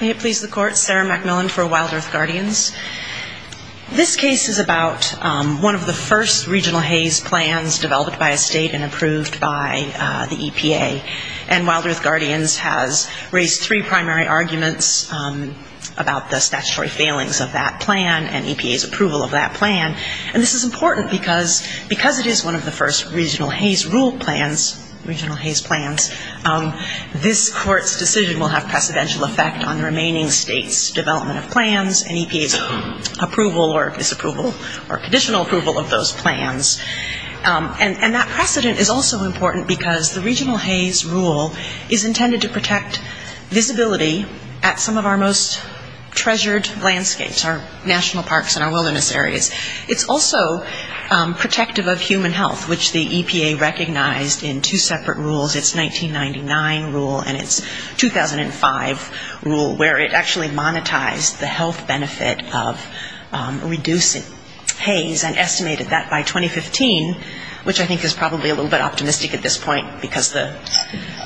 May it please the court, Sarah McMillan for WildEarth Guardians. This case is about one of the first regional haze plans developed by a state and approved by the EPA. And WildEarth Guardians has raised three primary arguments about the statutory failings of that plan and EPA's approval of that plan. And this is important because it is one of the first regional haze rule plans, regional haze plans. This court's decision will have precedential effect on the remaining state's development of plans and EPA's approval or disapproval or conditional approval of those plans. And that precedent is also important because the regional haze rule is intended to protect visibility at some of our most treasured landscapes, our national parks and our wilderness areas. It's also protective of human health, which the EPA recognized in two separate rules, its 1999 rule and its 2005 rule, where it actually monetized the health benefit of reducing haze and estimated that by 2015, which I think is probably a little bit optimistic at this point because the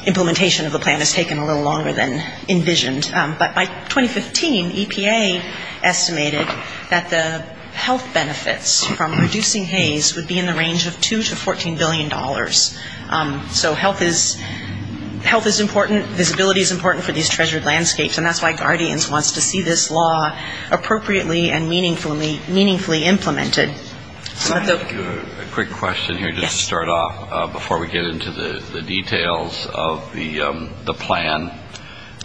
implementation of the plan has taken a little longer than envisioned. But by 2015, EPA estimated that the health benefits from reducing haze would be in the range of $2 to $14 billion. So health is important. Visibility is important for these treasured landscapes. And that's why Guardians wants to see this law appropriately and meaningfully implemented. So I'd like to ask you a quick question here just to start off before we get into the details of the plan.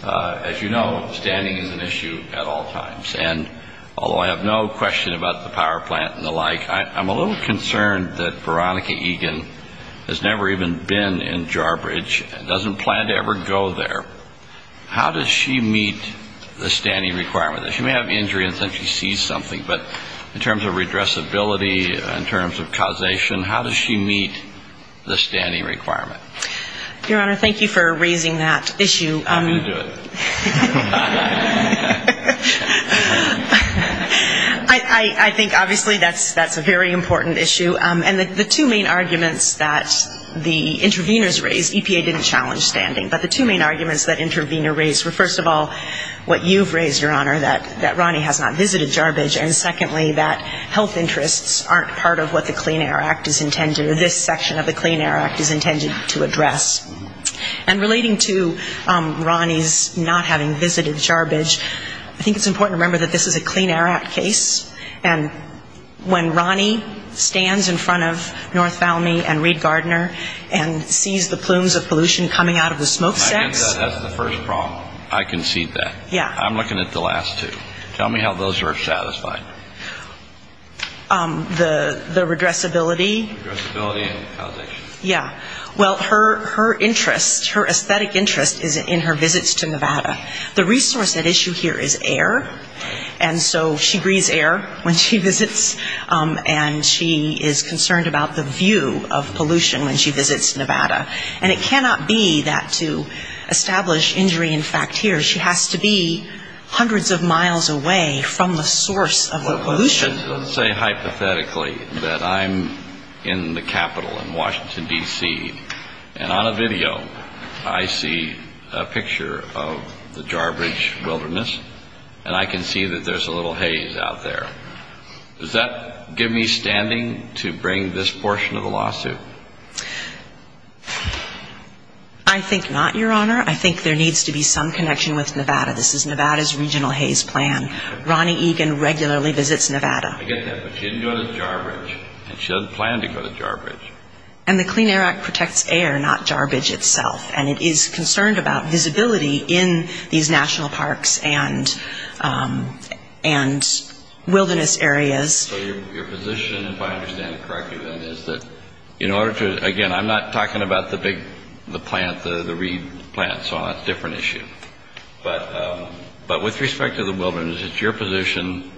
As you know, standing is an issue at all times. And although I have no question about the power plant and the like, I'm a little concerned that Veronica Egan has never even been in Jarbridge and doesn't plan to ever go there. How does she meet the standing requirement? She may have injury and think she sees something, but in terms of redressability, in terms of causation, how does she meet the standing requirement? Your Honor, thank you for raising that issue. I'm going to do it. I think obviously that's a very important issue. And the two main arguments that the interveners raised, EPA didn't challenge standing, but the two main arguments that intervener raised were, first of all, what you've raised, Your Honor, that Ronnie has not visited Jarbridge, and secondly, that health interests aren't part of what the Clean Air Act is intended or this section of the Clean Air Act is intended to address. And relating to Ronnie's not having visited Jarbridge, I think it's important to remember that this is a Clean Air Act case, and when Ronnie stands in front of North Valmie and Reed Gardner and sees the plumes of pollution coming out of the smokestacks ---- I think that's the first problem. I concede that. Yeah. I'm looking at the last two. Tell me how those are satisfied. The redressability. Redressability and causation. Yeah. Well, her interest, her aesthetic interest is in her visits to Nevada. The resource at issue here is air, and so she breathes air when she visits, and she is concerned about the view of pollution when she visits Nevada. And it cannot be that to establish injury in fact here. She has to be hundreds of miles away from the source of the pollution, and I'm in the capital in Washington, D.C., and on a video, I see a picture of the Jarbridge wilderness, and I can see that there's a little haze out there. Does that give me standing to bring this portion of the lawsuit? I think not, Your Honor. I think there needs to be some connection with Nevada. This is I get that, but she didn't go to Jarbridge, and she doesn't plan to go to Jarbridge. And the Clean Air Act protects air, not Jarbridge itself, and it is concerned about visibility in these national parks and wilderness areas. So your position, if I understand it correctly, then, is that in order to, again, I'm not talking about the big, the plant, the reed plant, so that's a different issue. But with respect to the wilderness, it's your position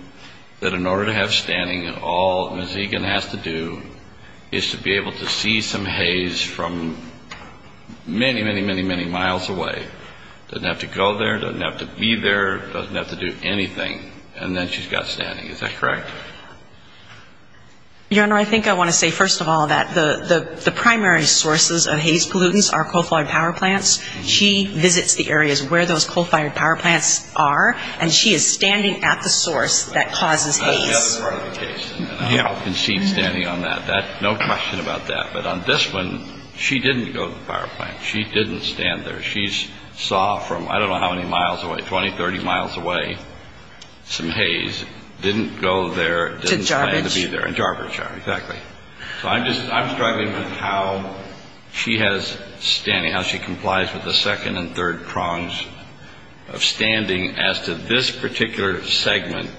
that in order to have standing, all Ms. Egan has to do is to be able to see some haze from many, many, many, many miles away. Doesn't have to go there, doesn't have to be there, doesn't have to do anything, and then she's got standing. Is that correct? Your Honor, I think I want to say first of all that the primary sources of haze pollutants are coal-fired power plants. She visits the areas where those coal-fired power plants are, and she is standing at the source that causes haze. That's the other part of the case, and I concede standing on that. No question about that. But on this one, she didn't go to the power plant. She didn't stand there. She saw from, I don't know how many miles away, 20, 30 miles away, some haze. Didn't go there, didn't plan to be there. So I'm just, I'm struggling with how she has standing, how she complies with the second and third prongs of standing as to this particular segment.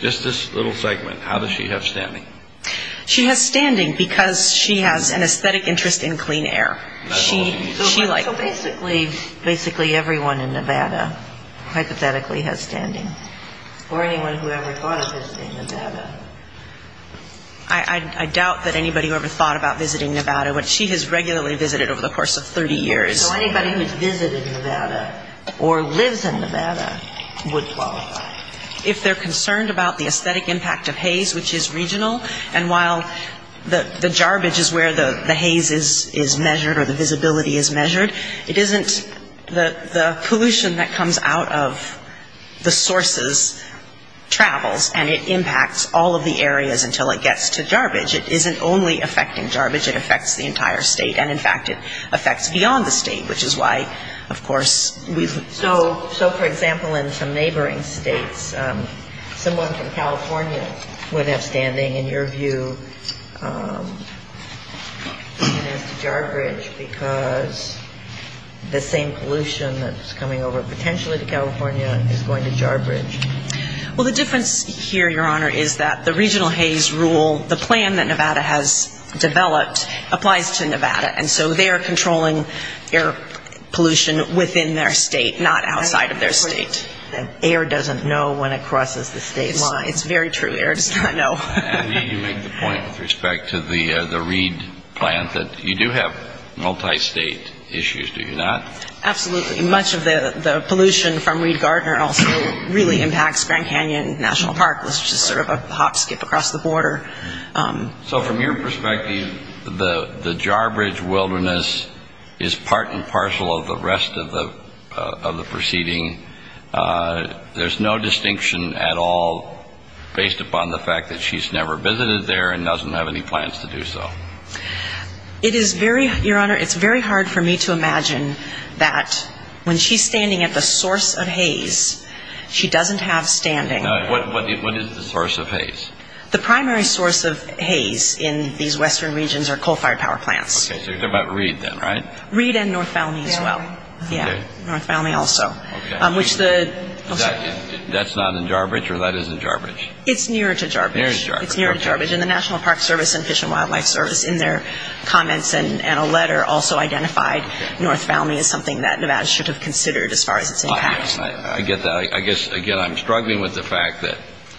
Just this little segment, how does she have standing? She has standing because she has an aesthetic interest in clean air. So basically everyone in Nevada hypothetically has standing. Or anyone who ever thought of visiting Nevada. I doubt that anybody ever thought about visiting Nevada, but she has regularly visited over the course of 30 years. So anybody who's visited Nevada or lives in Nevada would qualify. If they're concerned about the aesthetic impact of haze, which is regional, and while the visibility is measured, it isn't the pollution that comes out of the sources travels and it impacts all of the areas until it gets to Jarbidge. It isn't only affecting Jarbidge, it affects the entire state. And in fact, it affects beyond the state, which is why, of course, we've So, for example, in some neighboring states, someone from California would have standing in your view as to Jarbidge because the same pollution that's coming over potentially to California is going to Jarbidge. Well, the difference here, Your Honor, is that the regional haze rule, the plan that Nevada has developed, applies to Nevada, and so they are controlling air pollution within their state, not outside of their state. And air doesn't know when it crosses the state line. It's very true. Air does not know. And you make the point with respect to the Reed plant that you do have multi-state issues, do you not? Absolutely. Much of the pollution from Reed-Gardner also really impacts Grand Canyon National Park, which is sort of a hop, skip across the border. So from your perspective, the Jarbidge wilderness is part and parcel of the rest of the proceeding. There's no distinction at all based upon the fact that she's never visited there and doesn't have any plans to do so. It is very, Your Honor, it's very hard for me to imagine that when she's standing at the source of haze, she doesn't have standing. What is the source of haze? The primary source of haze in these western regions are coal-fired power plants. Okay, so you're talking about Reed then, right? Reed and North Valley as well. Yeah, North Valley also. That's not in Jarbidge, or that is in Jarbidge? It's near to Jarbidge. And the National Park Service and Fish and Wildlife Service in their comments and a letter also identified North Valley as something that Nevada should have considered as far as its impacts. I get that. I guess, again, I'm struggling with the fact that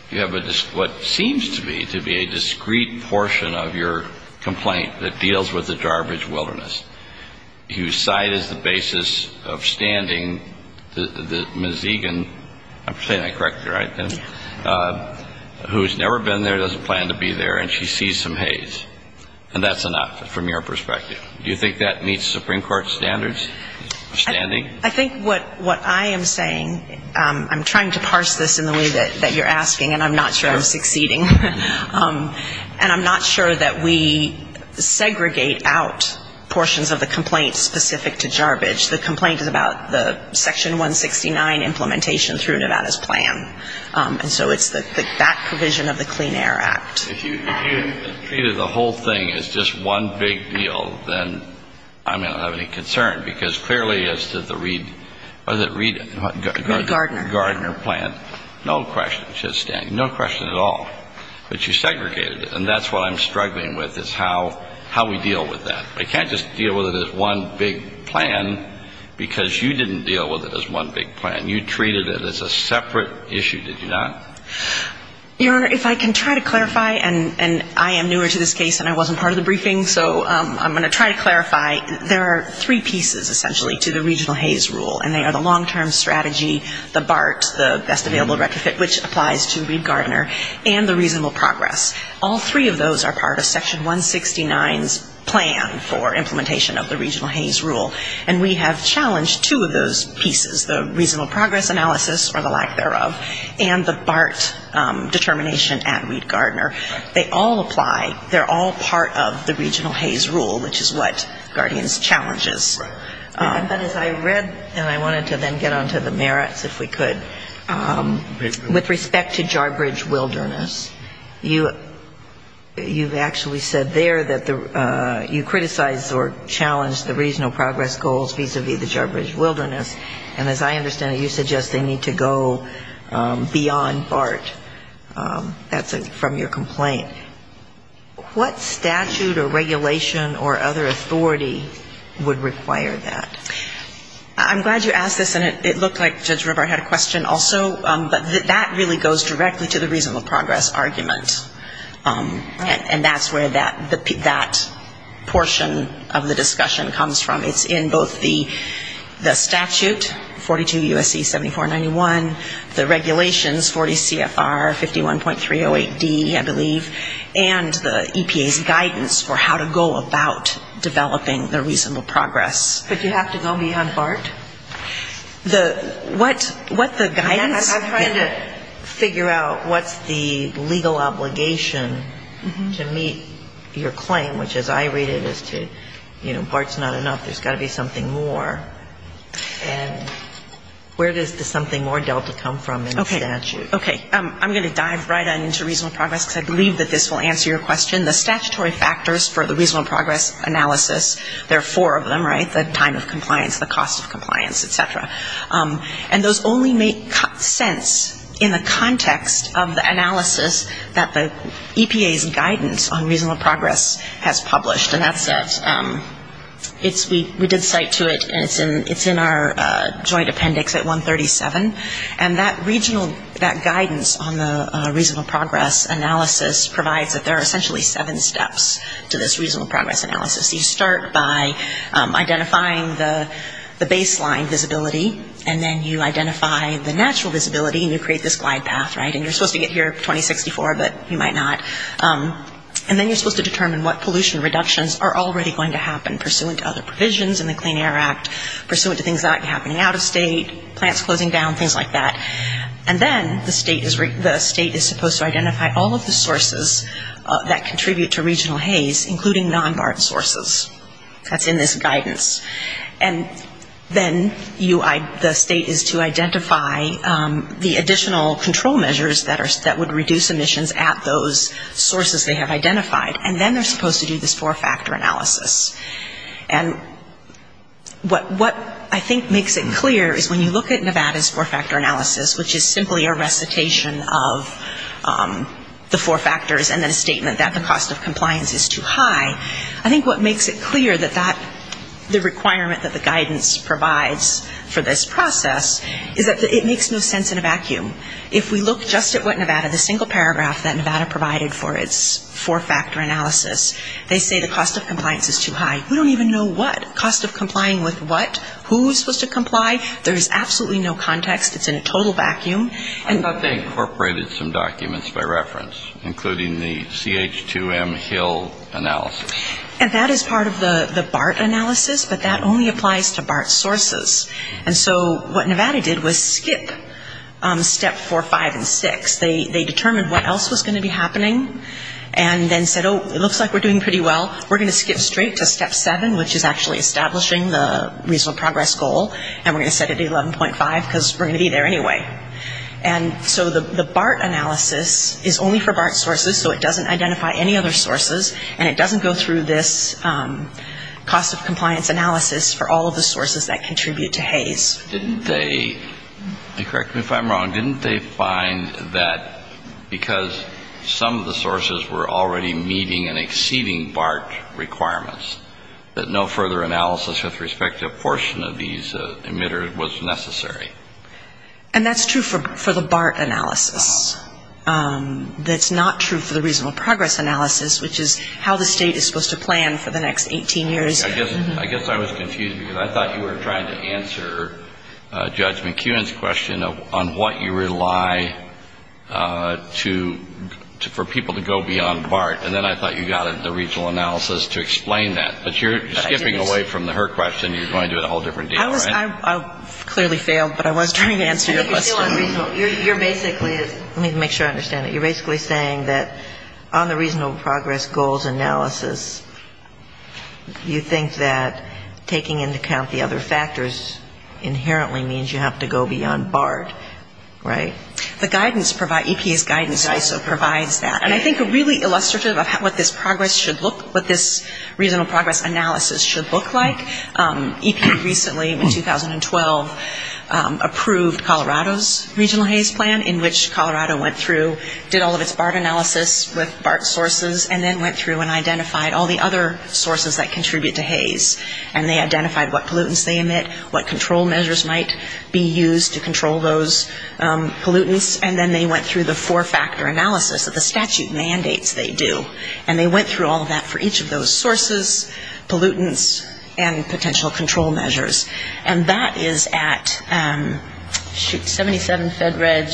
you have what seems to be a discreet portion of your complaint that deals with the Jarbidge wilderness, whose site is the basis of standing, the Mazegan, I'm saying that correctly, right? Who's never been there, doesn't plan to be there, and she sees some haze. And that's enough from your perspective. Do you think that meets Supreme Court standards of standing? I think what I am saying, I'm trying to parse this in the way that you're asking, and I'm not sure I'm succeeding. And I'm not sure that we segregate out portions of the complaint specific to Jarbidge. The complaint is about the Section 169 implementation through Nevada's plan. And so it's that provision of the Clean Air Act. If you treated the whole thing as just one big deal, then I may not have any concern. Because clearly as to the Reed Gardner plant, no question, it's just standing. No question at all. But you segregated it. And that's what I'm struggling with is how we deal with that. I can't just deal with it as one big plan, because you didn't deal with it as one big plan. You treated it as a separate issue, did you not? Your Honor, if I can try to clarify, and I am newer to this case and I wasn't part of the briefing, so I'm going to try to clarify. There are three pieces, essentially, to the regional haze rule. And they are the long-term strategy, the BART, the best available retrofit, which applies to Reed Gardner, and the reasonable progress. All three of those are part of Section 169's plan for implementation of the regional haze rule. And we have challenged two of those pieces, the reasonable progress analysis, or the lack thereof, and the BART determination at Reed Gardner. They all apply. They're all part of the regional haze rule, which is what Guardians challenges. But as I read, and I wanted to then get on to the merits, if we could, with respect to Jarbridge Wilderness, you've actually said there that you criticize or challenge the regional progress goals vis-a-vis the Jarbridge Wilderness. And as I understand it, you suggest they need to go beyond BART. That's from your complaint. What statute or regulation or other authority would require that? I'm glad you asked this, and it looked like Judge Rivera had a question also, but that really goes directly to the reasonable progress argument, and that's where that portion of the discussion comes from. It's in both the statute, 42 U.S.C. 7491, the regulations, 40 CFR 51.308D, I believe, and the EPA's guidance for how to go about developing the reasonable progress. But you have to go beyond BART? I'm trying to figure out what's the legal obligation to meet your claim, which as I read it is to, you know, BART's not enough, there's got to be something more. And where does the something more delta come from in the statute? Okay. I'm going to dive right on into reasonable progress, because I believe that this will answer your question. The statutory factors for the reasonable progress analysis, there are four of them, right, the time of compliance, the cost of compliance, et cetera, and those only make sense in the context of the analysis that the EPA's guidance on reasonable progress has published, and that's that we did cite to it, and it's in our joint appendix at 137, and that regional, that guidance on the reasonable progress analysis is essentially seven steps to this reasonable progress analysis. You start by identifying the baseline visibility, and then you identify the natural visibility, and you create this glide path, right, and you're supposed to get here 2064, but you might not, and then you're supposed to determine what pollution reductions are already going to happen, pursuant to other provisions in the Clean Air Act, pursuant to things not happening out of state, plants closing down, things like that, and then the state is supposed to identify all of the sources of the pollution reductions that are going to happen, and that contribute to regional haze, including non-BART sources. That's in this guidance. And then the state is to identify the additional control measures that would reduce emissions at those sources they have identified, and then they're supposed to do this four-factor analysis. And what I think makes it clear is when you look at Nevada's four-factor analysis, which is simply a recitation of the four factors, and then a statement that the cost of compliance is too high, I think what makes it clear that that, the requirement that the guidance provides for this process, is that it makes no sense in a vacuum. If we look just at what Nevada, the single paragraph that Nevada provided for its four-factor analysis, they say the cost of compliance is too high. We don't even know what. Cost of complying with what? Who is supposed to comply? There's absolutely no context. It's in a total vacuum. I thought they incorporated some documents by reference, including the CH2M Hill analysis. And that is part of the BART analysis, but that only applies to BART sources. And so what Nevada did was skip step four, five, and six. They determined what else was going to be happening, and then said, oh, it looks like we're doing pretty well. We're going to skip straight to step seven, which is actually establishing the regional progress goal, and we're going to set it at 11.5 because we're going to be there anyway. And so the BART analysis is only for BART sources, so it doesn't identify any other sources, and it doesn't go through this cost of compliance analysis for all of the sources that contribute to Hays. Didn't they, correct me if I'm wrong, didn't they find that because some of the sources were already meeting and exceeding BART requirements, that no further analysis with respect to a portion of these emitters was necessary? And that's true for the BART analysis. That's not true for the regional progress analysis, which is how the State is supposed to plan for the next 18 years. I guess I was confused because I thought you were trying to answer Judge McEwen's question on what you rely to for people to go beyond BART, and then I thought you got the regional analysis to explain that. But you're skipping away from her question. You're going to a whole different deal, right? I clearly failed, but I was trying to answer your question. You're basically saying that on the regional progress goals analysis, you think that taking into account the other factors inherently means you have to go beyond BART, right? The guidance, EPA's guidance ISO provides that. And I think really illustrative of what this regional progress analysis should look like, EPA recently in 2012 approved Colorado's regional haze plan, in which Colorado went through, did all of its BART analysis with BART sources, and then went through and identified all the other sources that contribute to haze. And they identified what pollutants they emit, what control measures might be used to control those pollutants, and then they went through the four-factor analysis of the statute mandates they do. And they went through all of that for each of those sources, pollutants, and potential control measures. And that is at, shoot, 77 Fed Reg.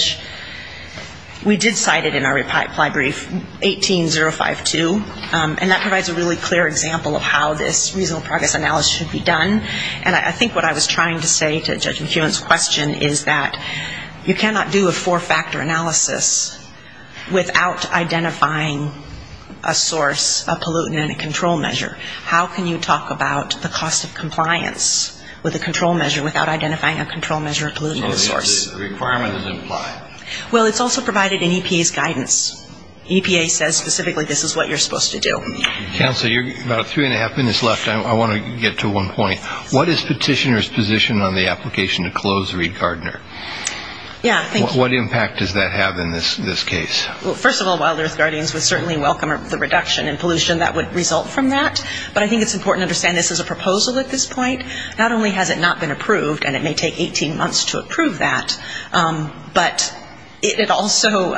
We did cite it in our reply brief, 18052, and that provides a really clear example of how this regional progress analysis should be done, and I think what I was trying to say to Judge McEwen's question is that you cannot do a four-factor analysis without identifying a source, a pollutant, and a control measure. How can you talk about the cost of compliance with a control measure without identifying a control measure, a pollutant, and a source? Well, it's also provided in EPA's guidance. EPA says specifically this is what you're supposed to do. Counsel, you're about three and a half minutes left. I want to get to one point. What is petitioner's position on the application to close Reed-Gardner? What impact does that have in this case? Well, first of all, Wild Earth Guardians would certainly welcome the reduction in pollution that would result from that, but I think it's important to understand this is a proposal at this point. Not only has it not been approved, and it may take 18 months to approve that, but it also,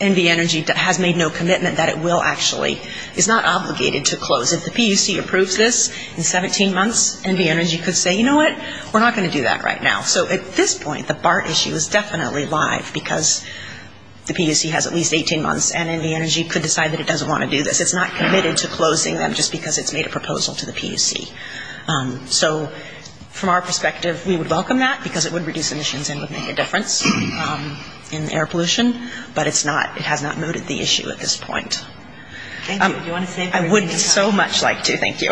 NV Energy has made no commitment that it will actually, it's not obligated to close. If the PUC approves this in 17 months, NV Energy could say, you know what, we're not going to do that right now. So at this point, the BART issue is definitely live, because the PUC has at least 18 months, and NV Energy could decide that it doesn't want to do this. It's not committed to closing them just because it's made a proposal to the PUC. So from our perspective, we would welcome that, because it would reduce emissions and would make a difference in air pollution, but it's not, it has not noted the issue at this point. I would so much like to. Thank you.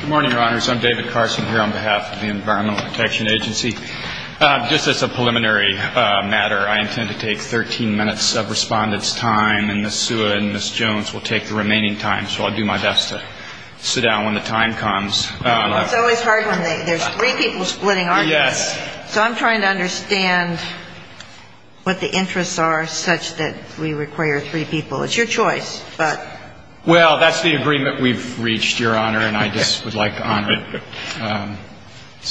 Good morning, Your Honors. I'm David Carson here on behalf of the Environmental Protection Agency. Just as a preliminary matter, I intend to take 13 minutes of Respondent's time, and Ms. Suha and Ms. Jones will take the remaining time, so I'll do my best to sit down when the time comes. It's always hard when there's three people splitting, aren't there? Yes. So I'm trying to understand what the interests are such that we require three people. It's your choice, but. Well, that's the agreement we've reached, Your Honor, and I just would like to honor it.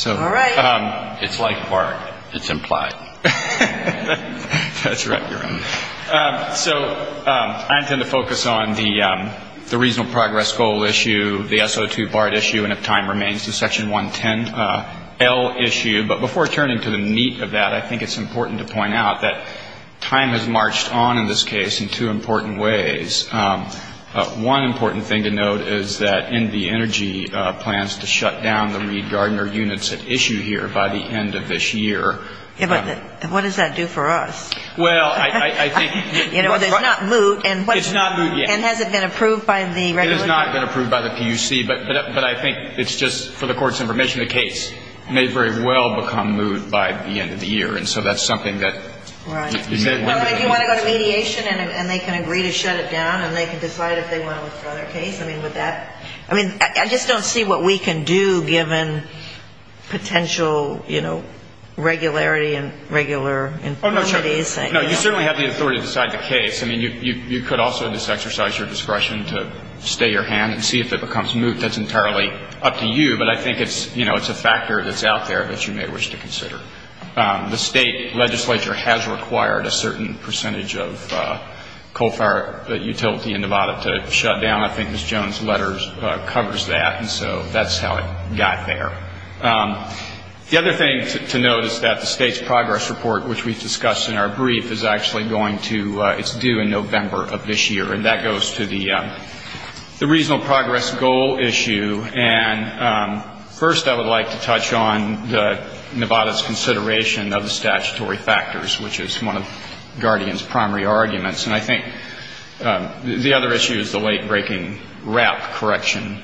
All right. It's like BART. It's implied. That's right, Your Honor. So I intend to focus on the Reasonable Progress Goal issue, the SO2 BART issue, and if time remains, the Section 110L issue. But before turning to the meat of that, I think it's important to point out that time has marched on in this case in two important ways. One important thing to note is that NV Energy plans to shut down the Reed Gardner units at issue here by the end of this year. What does that do for us? Well, I think. It's not moot. It's not moot yet. And has it been approved by the regulation? It has not been approved by the PUC, but I think it's just for the Court's information, the case may very well become moot by the end of the year, and so that's something that. You want to go to mediation and they can agree to shut it down and they can decide if they want to withdraw their case? I mean, would that. I mean, I just don't see what we can do given potential, you know, regularity and regular infirmities. No, you certainly have the authority to decide the case. I mean, you could also just exercise your discretion to stay your hand and see if it becomes moot. That's entirely up to you, but I think it's, you know, it's a factor that's out there that you may wish to consider. The state legislature has required a certain percentage of coal fire utility in Nevada to shut down. I think Ms. Jones' letter covers that, and so that's how it got there. The other thing to note is that the state's progress report, which we've discussed in our brief, is actually going to, it's due in November of this year, and that goes to the regional progress goal issue. And first I would like to touch on the Nevada's consideration of the statutory factors, which is one of Guardian's primary arguments. And I think the other issue is the late-breaking WRAP correction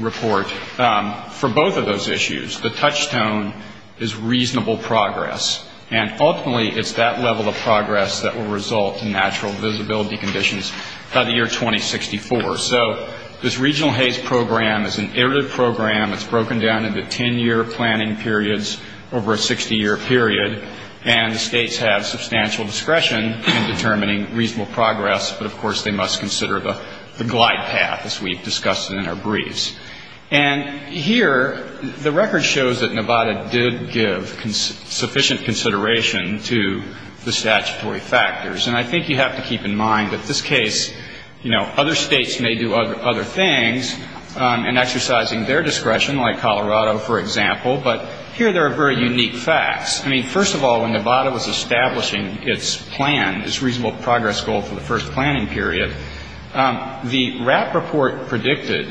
report. For both of those issues, the touchstone is reasonable progress. And ultimately it's that level of progress that will result in natural visibility conditions by the year 2064. So this regional haze program is an iterative program. It's broken down into 10-year planning periods over a 60-year period. And the states have substantial discretion in determining reasonable progress, but of course they must consider the glide path, as we've discussed in our briefs. And here, the record shows that Nevada did give sufficient consideration to the statutory factors. And I think you have to keep in mind that this case, you know, other states may do other things, but Nevada's not doing anything, and exercising their discretion, like Colorado, for example. But here there are very unique facts. I mean, first of all, when Nevada was establishing its plan, its reasonable progress goal for the first planning period, the WRAP report predicted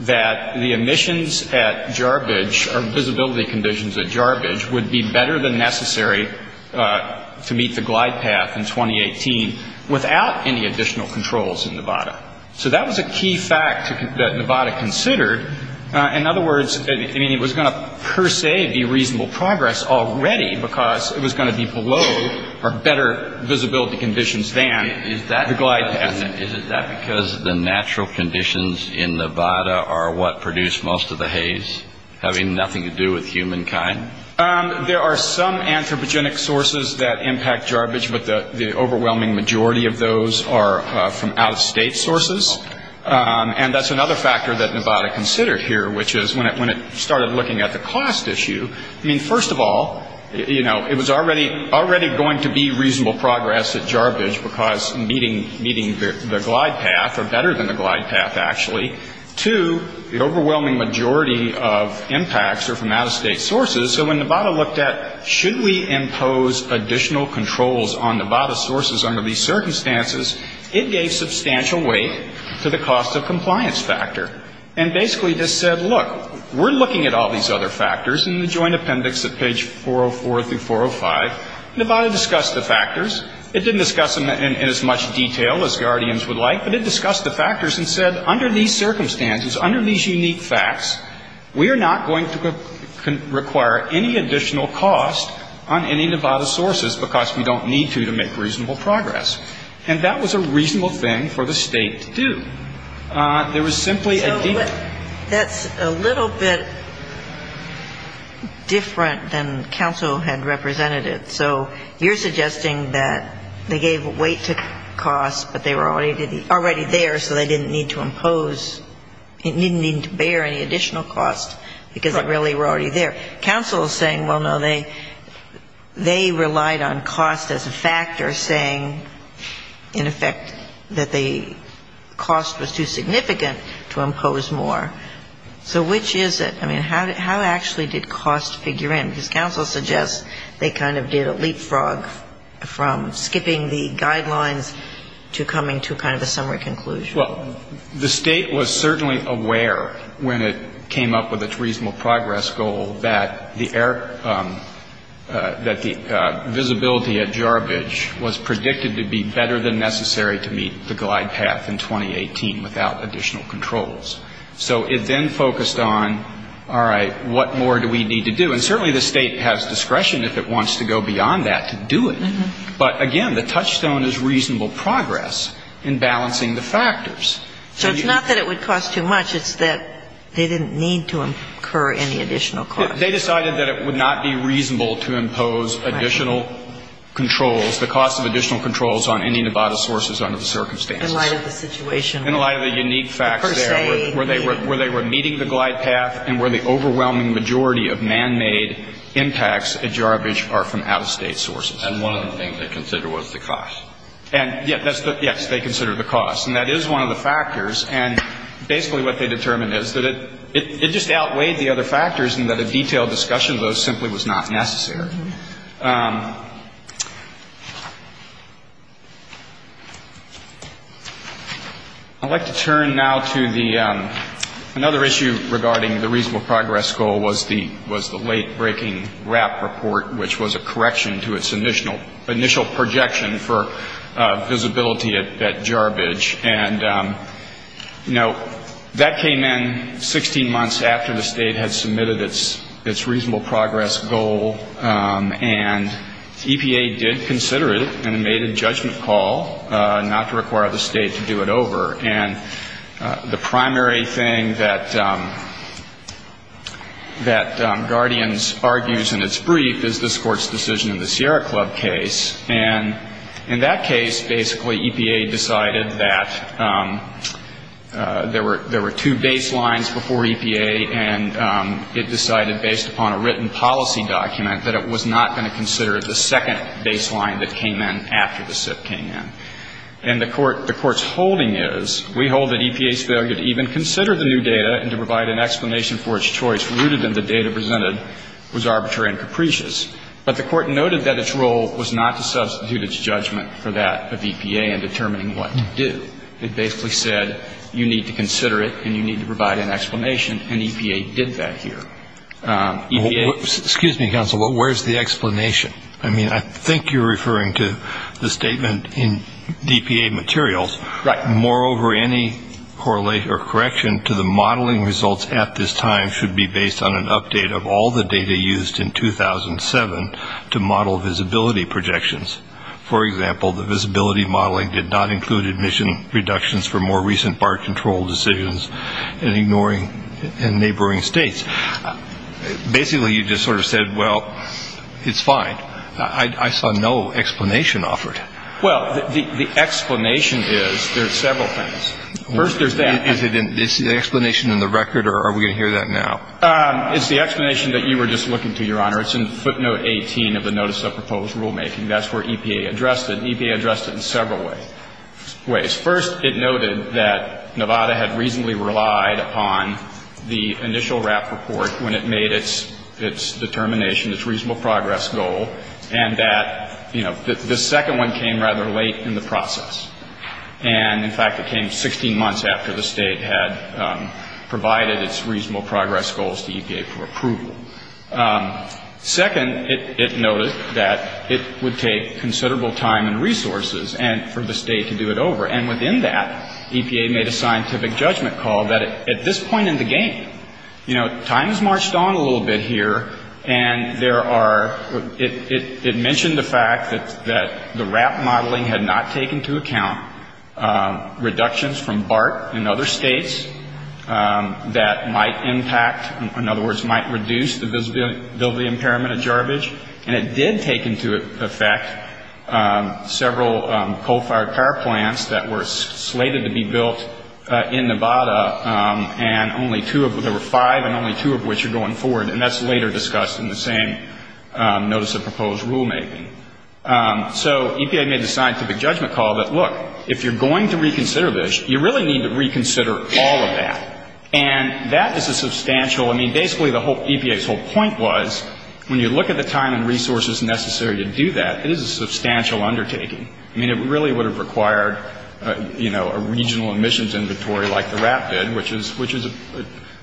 that the emissions at Jarbidge, or visibility conditions at Jarbidge, would be better than necessary to meet the glide path in 2018, without any additional controls in Nevada. So that was a key fact that Nevada was considering. In other words, I mean, it was going to, per se, be reasonable progress already, because it was going to be below or better visibility conditions than the glide path. Is that because the natural conditions in Nevada are what produce most of the haze, having nothing to do with humankind? There are some anthropogenic sources that impact Jarbidge, but the overwhelming majority of those are from out-of-state sources, and that's another factor that Nevada considered here, which is, when it started looking at the cost issue, I mean, first of all, you know, it was already going to be reasonable progress at Jarbidge, because meeting the glide path, or better than the glide path, actually, to the overwhelming majority of impacts are from out-of-state sources. So when Nevada looked at, should we impose additional controls on Nevada's sources under these circumstances, it gave substantial weight to the cost of compliance factor. And basically, this said, look, we're looking at all these other factors in the joint appendix at page 404 through 405. Nevada discussed the factors. It didn't discuss them in as much detail as guardians would like, but it discussed the factors and said, under these circumstances, under these unique facts, we are not going to require any additional cost on any Nevada sources, because we don't need to to make reasonable progress. And that was a reasonable way to do it. There was simply a deeper... Ginsburg That's a little bit different than counsel had represented it. So you're suggesting that they gave weight to cost, but they were already there, so they didn't need to impose, didn't need to bear any additional cost, because they really were already there. Counsel is saying, well, no, they relied on cost as a factor, saying, in effect, that they didn't need to impose any additional cost, because the cost was too significant to impose more. So which is it? I mean, how actually did cost figure in? Because counsel suggests they kind of did a leapfrog from skipping the guidelines to coming to kind of a summary conclusion. Well, the State was certainly aware when it came up with its reasonable progress goal that the visibility at Jarbidge was predicted to be better than necessary to meet the glide path in 2018 without additional controls. So it then focused on, all right, what more do we need to do? And certainly the State has discretion if it wants to go beyond that to do it. But again, the touchstone is reasonable progress in balancing the factors. Ginsburg So it's not that it would cost too much. It's that they didn't need to incur any additional cost. They decided that it would not be reasonable to impose additional controls, the cost of additional controls on any Nevada sources under the circumstances. In light of the unique facts there, where they were meeting the glide path and where the overwhelming majority of manmade impacts at Jarbidge are from out-of-State sources. And one of the things they considered was the cost. And yes, they considered the cost. And that is one of the factors. And basically what they determined is that it just outweighed the cost. And the detailed discussion of those simply was not necessary. I'd like to turn now to another issue regarding the reasonable progress goal was the late-breaking WRAP report, which was a correction to its initial projection for visibility at Jarbidge. And, you know, that came in 16 months after the State had made its reasonable progress goal. And EPA did consider it and made a judgment call not to require the State to do it over. And the primary thing that Guardians argues in its brief is this Court's decision in the Sierra Club case. And in that case, basically, EPA decided that there were two baselines before EPA, and it decided based upon those two baselines. And it decided based upon a written policy document that it was not going to consider the second baseline that came in after the SIP came in. And the Court's holding is, we hold that EPA's failure to even consider the new data and to provide an explanation for its choice rooted in the data presented was arbitrary and capricious. But the Court noted that its role was not to substitute its judgment for that of EPA in determining what to do. It basically said, you need to consider it and you need to provide an explanation. And EPA did that here. EPA Excuse me, counsel, but where's the explanation? I mean, I think you're referring to the statement in DPA materials. Right. Moreover, any correlation or correction to the modeling results at this time should be based on an update of all the data used in 2007 to model visibility projections. For example, the visibility modeling did not include admission reductions for more recent bar control decisions in ignoring and neighboring states. Basically, you just sort of said, well, it's fine. I saw no explanation offered. Well, the explanation is, there are several things. First, there's that. Is the explanation in the record or are we going to hear that now? It's the explanation that you were just looking to, Your Honor. It's in footnote 18 of the notice of proposed rulemaking. That's where EPA addressed it. EPA addressed it in several ways. First, it noted that Nevada had reasonably relied upon the initial RAP report when it made its determination, its reasonable progress goal, and that, you know, the second one came rather late in the process. And, in fact, it came 16 months after the state had provided its reasonable progress goals to EPA for approval. Second, it noted that it would take considerable time and resources for the state to do it over. And within that, EPA made a scientific judgment call that at this point in the game, you know, time has marched on a little bit here, and there are, it mentioned the fact that the RAP modeling had not taken into account reductions from BART in other states that might impact, in some cases, the visibility impairment of garbage. And it did take into effect several coal-fired power plants that were slated to be built in Nevada, and only two of them, there were five, and only two of which are going forward. And that's later discussed in the same notice of proposed rulemaking. So EPA made the scientific judgment call that, look, if you're going to reconsider this, you really need to reconsider all of that. And that is a substantial, I mean, basically the whole, EPA's whole point was, when you look at the time and resources necessary to do that, it is a substantial undertaking. I mean, it really would have required, you know, a regional emissions inventory like the RAP did, which is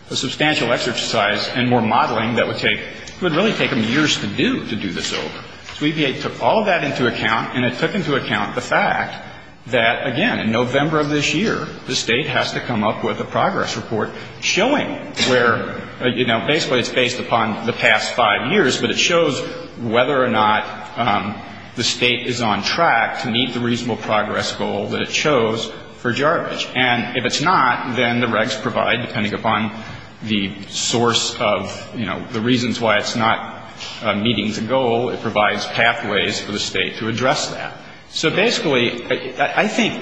a substantial exercise and more modeling that would take, it would really take them years to do, to do this over. So EPA took all of that into account, and it took into account the fact that, again, in November of this year, the state has to come up with a progress report showing where, you know, basically it's based upon the past five years, but it shows whether or not the state is on track to meet the reasonable progress goal that it chose for jarbage. And if it's not, then the regs provide, depending upon the source of, you know, the reasons why it's not meeting the goal, it provides pathways for the state to address that. So basically, I think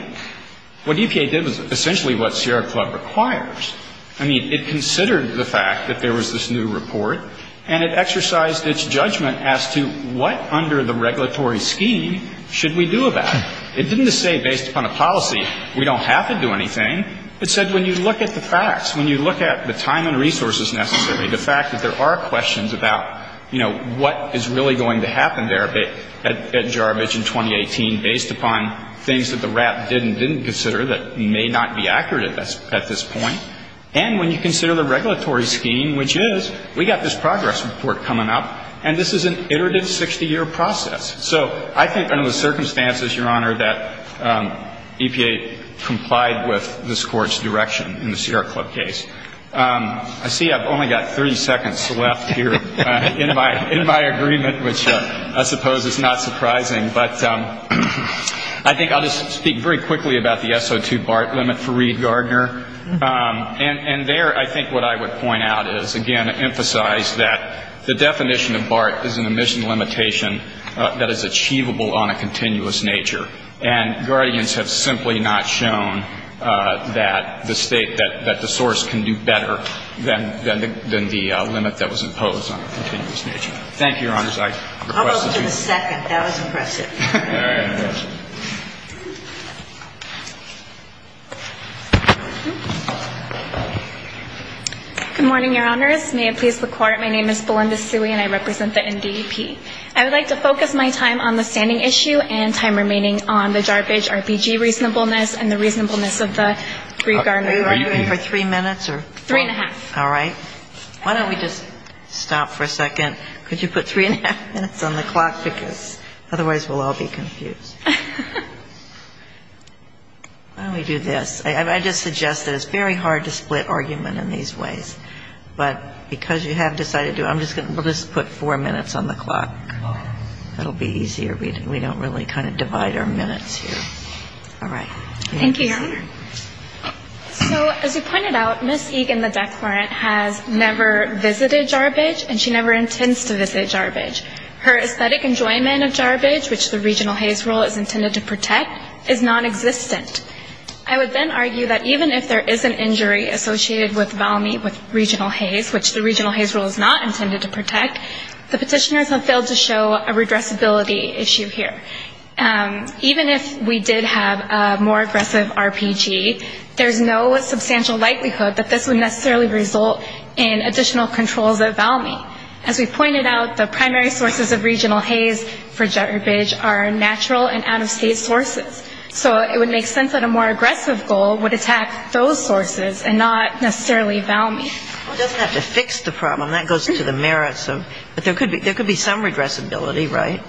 what EPA did was essentially what Sierra Club requires. I mean, it considered the fact that there was this new report, and it exercised its judgment as to what under the regulatory scheme should we do about it. It didn't say based upon a policy, we don't have to do anything. It said when you look at the facts, when you look at the time and resources necessary, the fact that there are questions about, you know, what is really going to happen there at jarbage in 2018 based upon things that the RAP did and didn't consider that may not be accurate at this point, and when you consider the regulatory scheme, which is, we got this progress report coming up, and this is an iterative 60-year process. So I think under the circumstances, Your Honor, that EPA complied with this Court's direction in the Sierra Club case. I see I've only got 30 seconds left here in my agreement, which I suppose is not surprising, but I think I'll just say that I think it's important to note that the S.O.B.A.R.T. is an omission limitation that is achievable on a continuous nature. And guardians have simply not shown that the State, that the source can do better than the limit that was imposed on a continuous nature. Thank you, Your Honor. I request that you. Ms. Suey. Ms. Suey. Good morning, Your Honors. May it please the Court, my name is Belinda Suey, and I represent the NDP. I would like to focus my time on the standing issue and time remaining on the jarbage RPG reasonableness and the reasonableness of the brief garment. Ms. Garment. Three and a half. Ms. Garment. All right. Why don't we just stop for a second. Could you put three and a half minutes on the clock, because otherwise we'll all be confused. Why don't we do this. I just suggest that it's very hard to split argument in these ways, but because you have decided to, I'm just going to put four minutes on the clock. That will be easier. We don't really kind of divide our minutes here. All right. Thank you, Your Honor. So as you pointed out, Ms. Egan, the declarant, has never visited jarbage and she never intends to visit jarbage. Her aesthetic enjoyment of jarbage, which the regional Hays rule is intended to protect, is nonexistent. I would then argue that even if there is an injury associated with regional Hays, which the regional Hays rule is not intended to protect, the petitioners have failed to show a more aggressive RPG. There's no substantial likelihood that this would necessarily result in additional controls at Valmy. As we pointed out, the primary sources of regional Hays for jarbage are natural and out-of-state sources. So it would make sense that a more aggressive goal would attack those sources and not necessarily Valmy. Well, it doesn't have to fix the problem. That goes to the merits. But there could be some regressibility, right?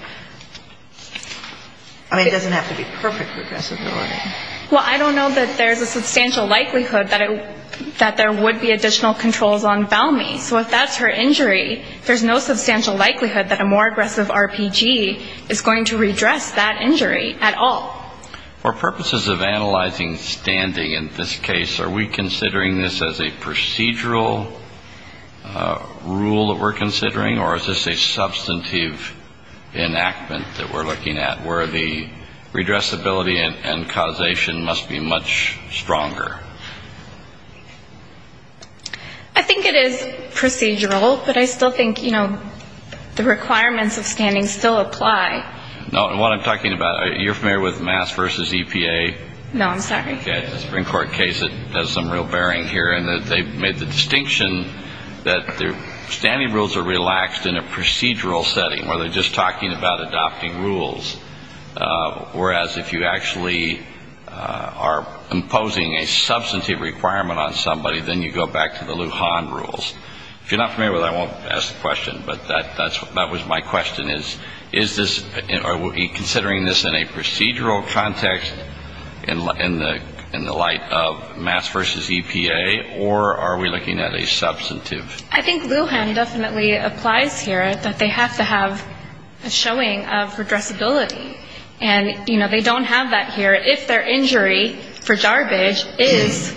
I mean, it doesn't have to be perfect regressibility. Well, I don't know that there's a substantial likelihood that there would be additional controls on Valmy. So if that's her injury, there's no substantial likelihood that a more aggressive RPG is going to redress that injury at all. For purposes of analyzing standing in this case, are we considering this as a procedural rule that we're considering, or is this a procedural rule that we're considering? I think it is procedural, but I still think, you know, the requirements of standing still apply. No, and what I'm talking about, you're familiar with Mass v. EPA? No, I'm sorry. Okay, a Supreme Court case that has some real bearing here in that they've made the distinction that standing rules are relaxed in a case, whereas if you actually are imposing a substantive requirement on somebody, then you go back to the Lujan rules. If you're not familiar with it, I won't ask the question, but that was my question, is, is this, are we considering this in a procedural context in the light of Mass v. EPA, or are we looking at a substantive? I think Lujan definitely applies here, that they have to have a showing of regressibility. And, you know, they don't have that here if their injury for jarbage is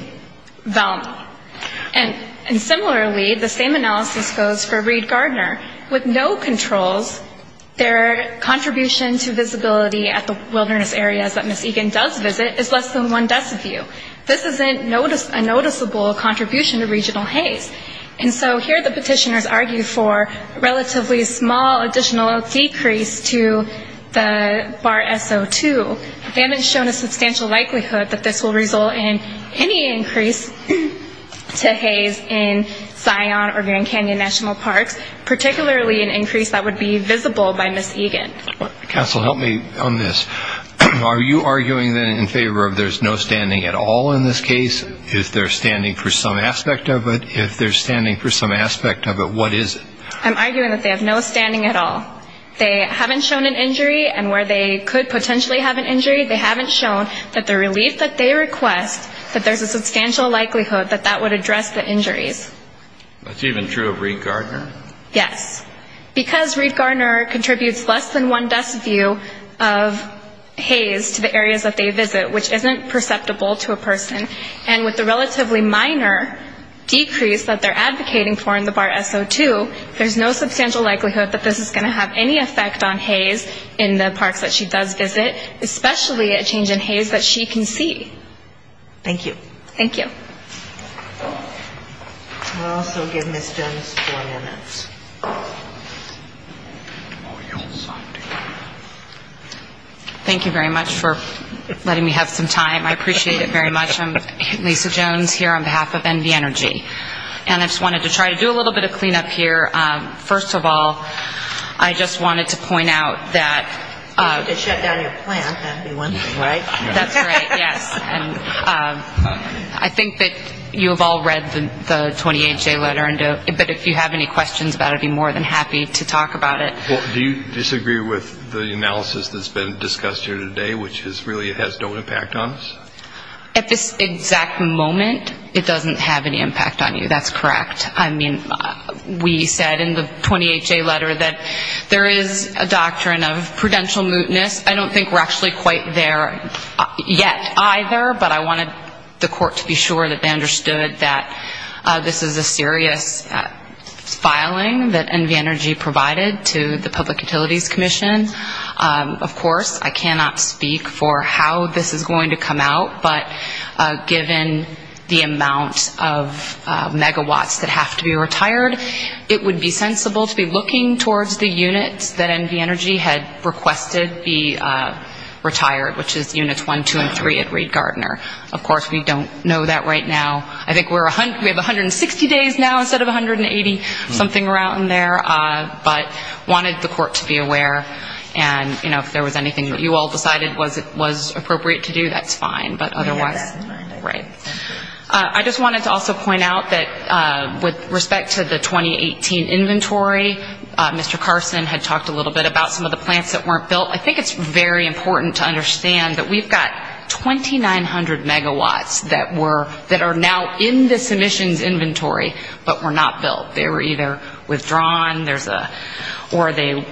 Vellman. And similarly, the same analysis goes for Reed-Gardner. With no controls, their contribution to visibility at the wilderness areas that Ms. Egan does visit is less than one deciview. This isn't a noticeable contribution to regional haze. And so here the petitioners argue for relatively small additional decrease to the bar SO2. They haven't shown a substantial likelihood that this will result in any increase to haze in Zion or Grand Canyon National Parks, particularly an increase that would be visible by Ms. Egan. Counsel, help me on this. Are you arguing, then, in favor of there's no standing at all in this case? If there's standing for some aspect of it, if there's standing for some aspect of it, what is it? I'm arguing that they have no standing at all. They haven't shown an injury, and where they could potentially have an injury, they haven't shown that the relief that they request, that there's a substantial likelihood that that would address the injuries. That's even true of Reed-Gardner? Yes. Because Reed-Gardner contributes less than one deciview of haze to the areas that they visit, which isn't perceptible to a person. And with the relatively minor decrease that they're advocating for in the bar SO2, there's no substantial likelihood that this is going to have any effect on haze in the parks that she does visit, especially a change in haze that she can see. Thank you. Thank you very much for letting me have some time. I appreciate it very much. I'm Lisa Jones here on behalf of NV Energy. And I just wanted to try to do a little bit of cleanup here. First of all, I just wanted to point out that... You need to shut down your plant, that would be one thing, right? That's right, yes. I think that you have all read the 28-J letter, but if you have any questions about it, I'd be more than happy to talk about it. Do you disagree with the analysis that's been discussed here today, which is really it has no impact on us? At this exact moment, it doesn't have any impact on you, that's correct. I mean, we said in the 28-J letter that there is a doctrine of prudential mootness. I don't think we're actually quite there yet either, but I wanted the court to be sure that they understood that this is a serious filing that NV Energy provided to the Public Utilities Commission. Of course, I cannot speak for how this is going to come out, but given the amount of megawatts that have to be retired, it would be sensible to be looking towards the units that NV Energy had requested be retired. Which is units 1, 2, and 3 at Reed Gardner. Of course, we don't know that right now. I think we have 160 days now instead of 180, something around there. But I wanted the court to be aware, and if there was anything that you all decided was appropriate to do, that's fine. I just wanted to also point out that with respect to the 2018 inventory, Mr. Carson had talked a little bit about some of the plants that weren't built. I think it's very important to understand that we've got 2,900 megawatts that are now in the submissions inventory, but were not built. They were either withdrawn or they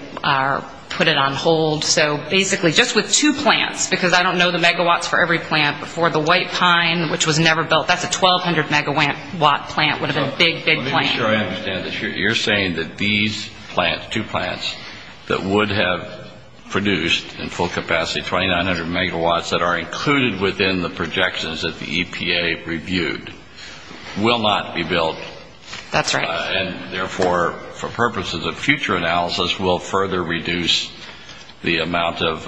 put it on hold. So basically just with two plants, because I don't know the megawatts for every plant, but for the white pine, which was never built, that's a 1,200 megawatt plant, would have been a big, big plant. I'm not sure I understand this. You're saying that these plants, two plants, that would have produced in full capacity 2,900 megawatts that are included within the projections that the EPA reviewed, will not be built. That's right. And therefore, for purposes of future analysis, will further reduce the amount of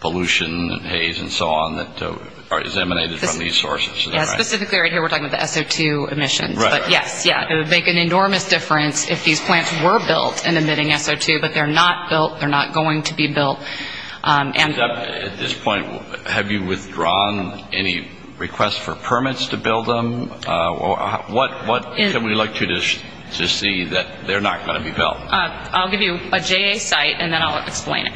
pollution and haze and so on that is emanated from these sources. Specifically right here, we're talking about the SO2 emissions. It would make an enormous difference if these plants were built and emitting SO2, but they're not built, they're not going to be built. At this point, have you withdrawn any requests for permits to build them? What can we look to to see that they're not going to be built? I'll give you a JA site and then I'll explain it.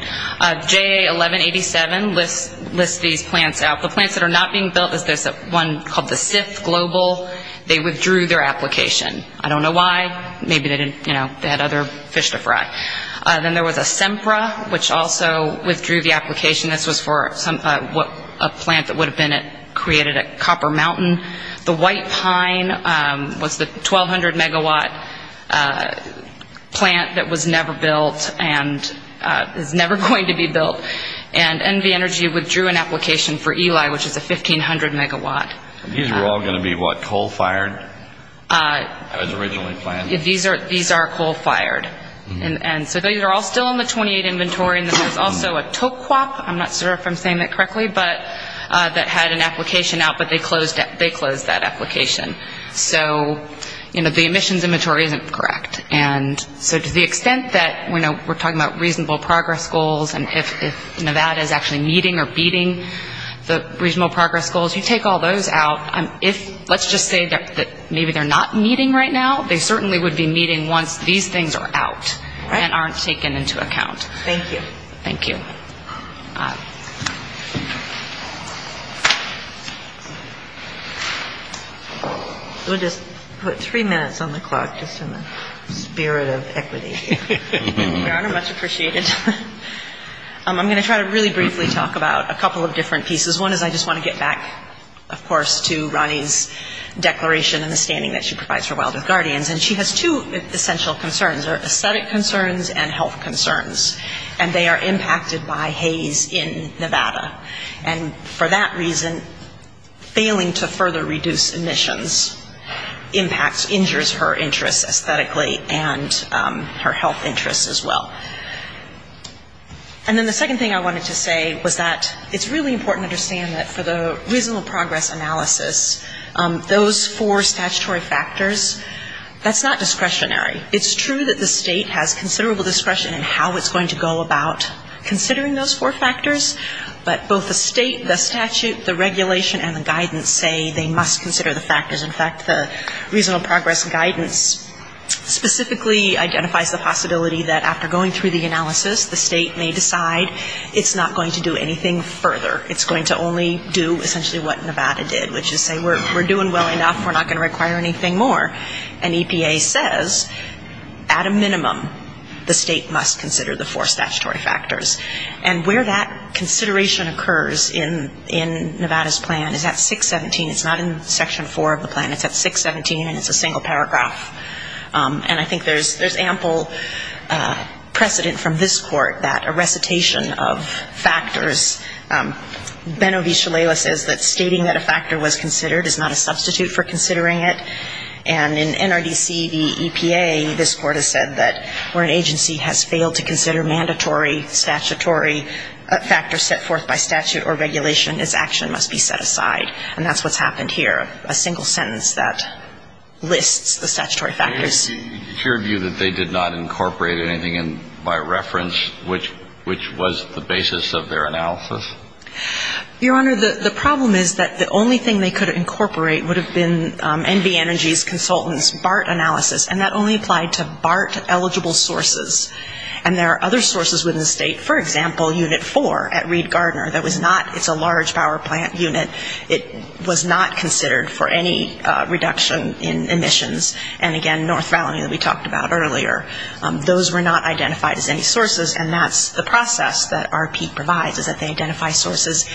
JA 1187 lists these plants out. The plants that are not being built, there's one called the Sith Global. They withdrew their application. I don't know why. Maybe they had other fish to fry. Then there was a Sempra, which also withdrew the application. This was for a plant that would have been created at Copper Mountain. The White Pine was the 1,200-megawatt plant that was never built and is never going to be built. And NV Energy withdrew an application for Eli, which is a 1,500-megawatt. These are all going to be, what, coal-fired, as originally planned? These are coal-fired. So these are all still in the 28 inventory. There's also a Tokwap, I'm not sure if I'm saying that correctly, that had an application out, but they closed that application. So the emissions inventory isn't correct. So to the extent that we're talking about reasonable progress goals and if Nevada is actually meeting or beating the reasonable progress goals, you take all those out. If, let's just say that maybe they're not meeting right now, they certainly would be meeting once these things are out and aren't taken into account. Thank you. We'll just put three minutes on the clock, just in the spirit of equity. Very much appreciated. I'm going to try to really briefly talk about a couple of different pieces. One is I just want to get back, of course, to Ronnie's declaration and the standing that she provides for Wild Earth Guardians. And she has two essential concerns, aesthetic concerns and health concerns. And they are impacted by haze in Nevada. And for that reason, failing to further reduce emissions impacts, injures her interests aesthetically and her health interests as well. And then the second thing I wanted to say was that it's really important to understand that for the reasonable progress analysis, those four statutory factors, that's not discretionary. It's true that the state has considerable discretion in how it's going to go about considering those four factors. But both the state, the statute, the regulation and the guidance say they must consider the factors. In fact, the reasonable progress guidance specifically identifies the possibility that after going through the analysis, the state may decide it's not going to do anything further, it's going to only do essentially what Nevada did, which is say we're doing well enough, we're not going to require anything more. And EPA says at a minimum the state must consider the four statutory factors. And where that consideration occurs in Nevada's plan is at 617, it's not in Section 4 of the plan, it's at 617 and it's a single paragraph. And I think there's ample precedent from this court that a recitation of factors, Ben-Ovi Shalala says that stating that a factor was considered is not a substitute for considering it, and in NRDC v. EPA, this court has said that where an agency has failed to consider mandatory statutory factors set forth by statute or regulation, its action must be set aside. And that's what's happened here, a single sentence that lists the statutory factors. Can you give your view that they did not incorporate anything in by reference, which was the basis of their analysis? Your Honor, the problem is that the only thing they could incorporate would have been NV Energy's consultant's BART analysis, and that only applied to BART-eligible sources. And there are other sources within the state, for example, Unit 4 at Reed Gardner, that was not, it's a large power plant unit, it was not considered for any reduction in emissions, and again, North Valley that we talked about earlier, those were not identified as any sources, and that's the process that RP provides, is that they identify sources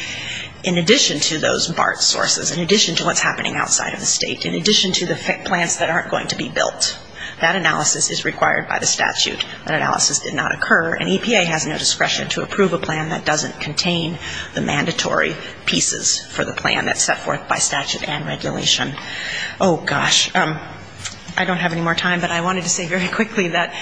in addition to those BART sources, in addition to what's happening outside of the state, in addition to the plants that aren't going to be built. That analysis is required by the statute. That analysis did not occur, and EPA has no discretion to approve a plan that doesn't contain the mandatory pieces for the plan that's set forth by statute and regulation. Oh, gosh. I don't have any more time, but I wanted to say very quickly that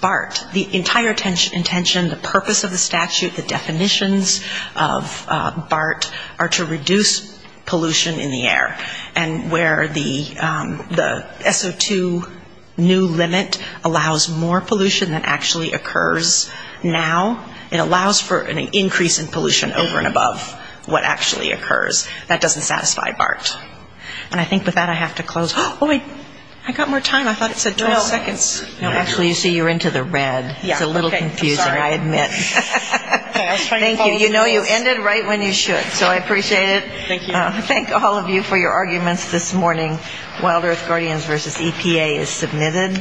BART, the entire intention, the purpose of the statute, the definitions of BART, are to reduce pollution in the air, and where the SO2 emissions are going to be reduced, that new limit allows more pollution than actually occurs now. It allows for an increase in pollution over and above what actually occurs. That doesn't satisfy BART. And I think with that, I have to close. Oh, wait, I got more time. I thought it said 12 seconds. No, actually, you see, you're into the red. It's a little confusing, I admit. Thank you. You know you ended right when you should. So I appreciate it. Thank all of you for your arguments this morning. Wild Earth Guardians versus EPA is submitted.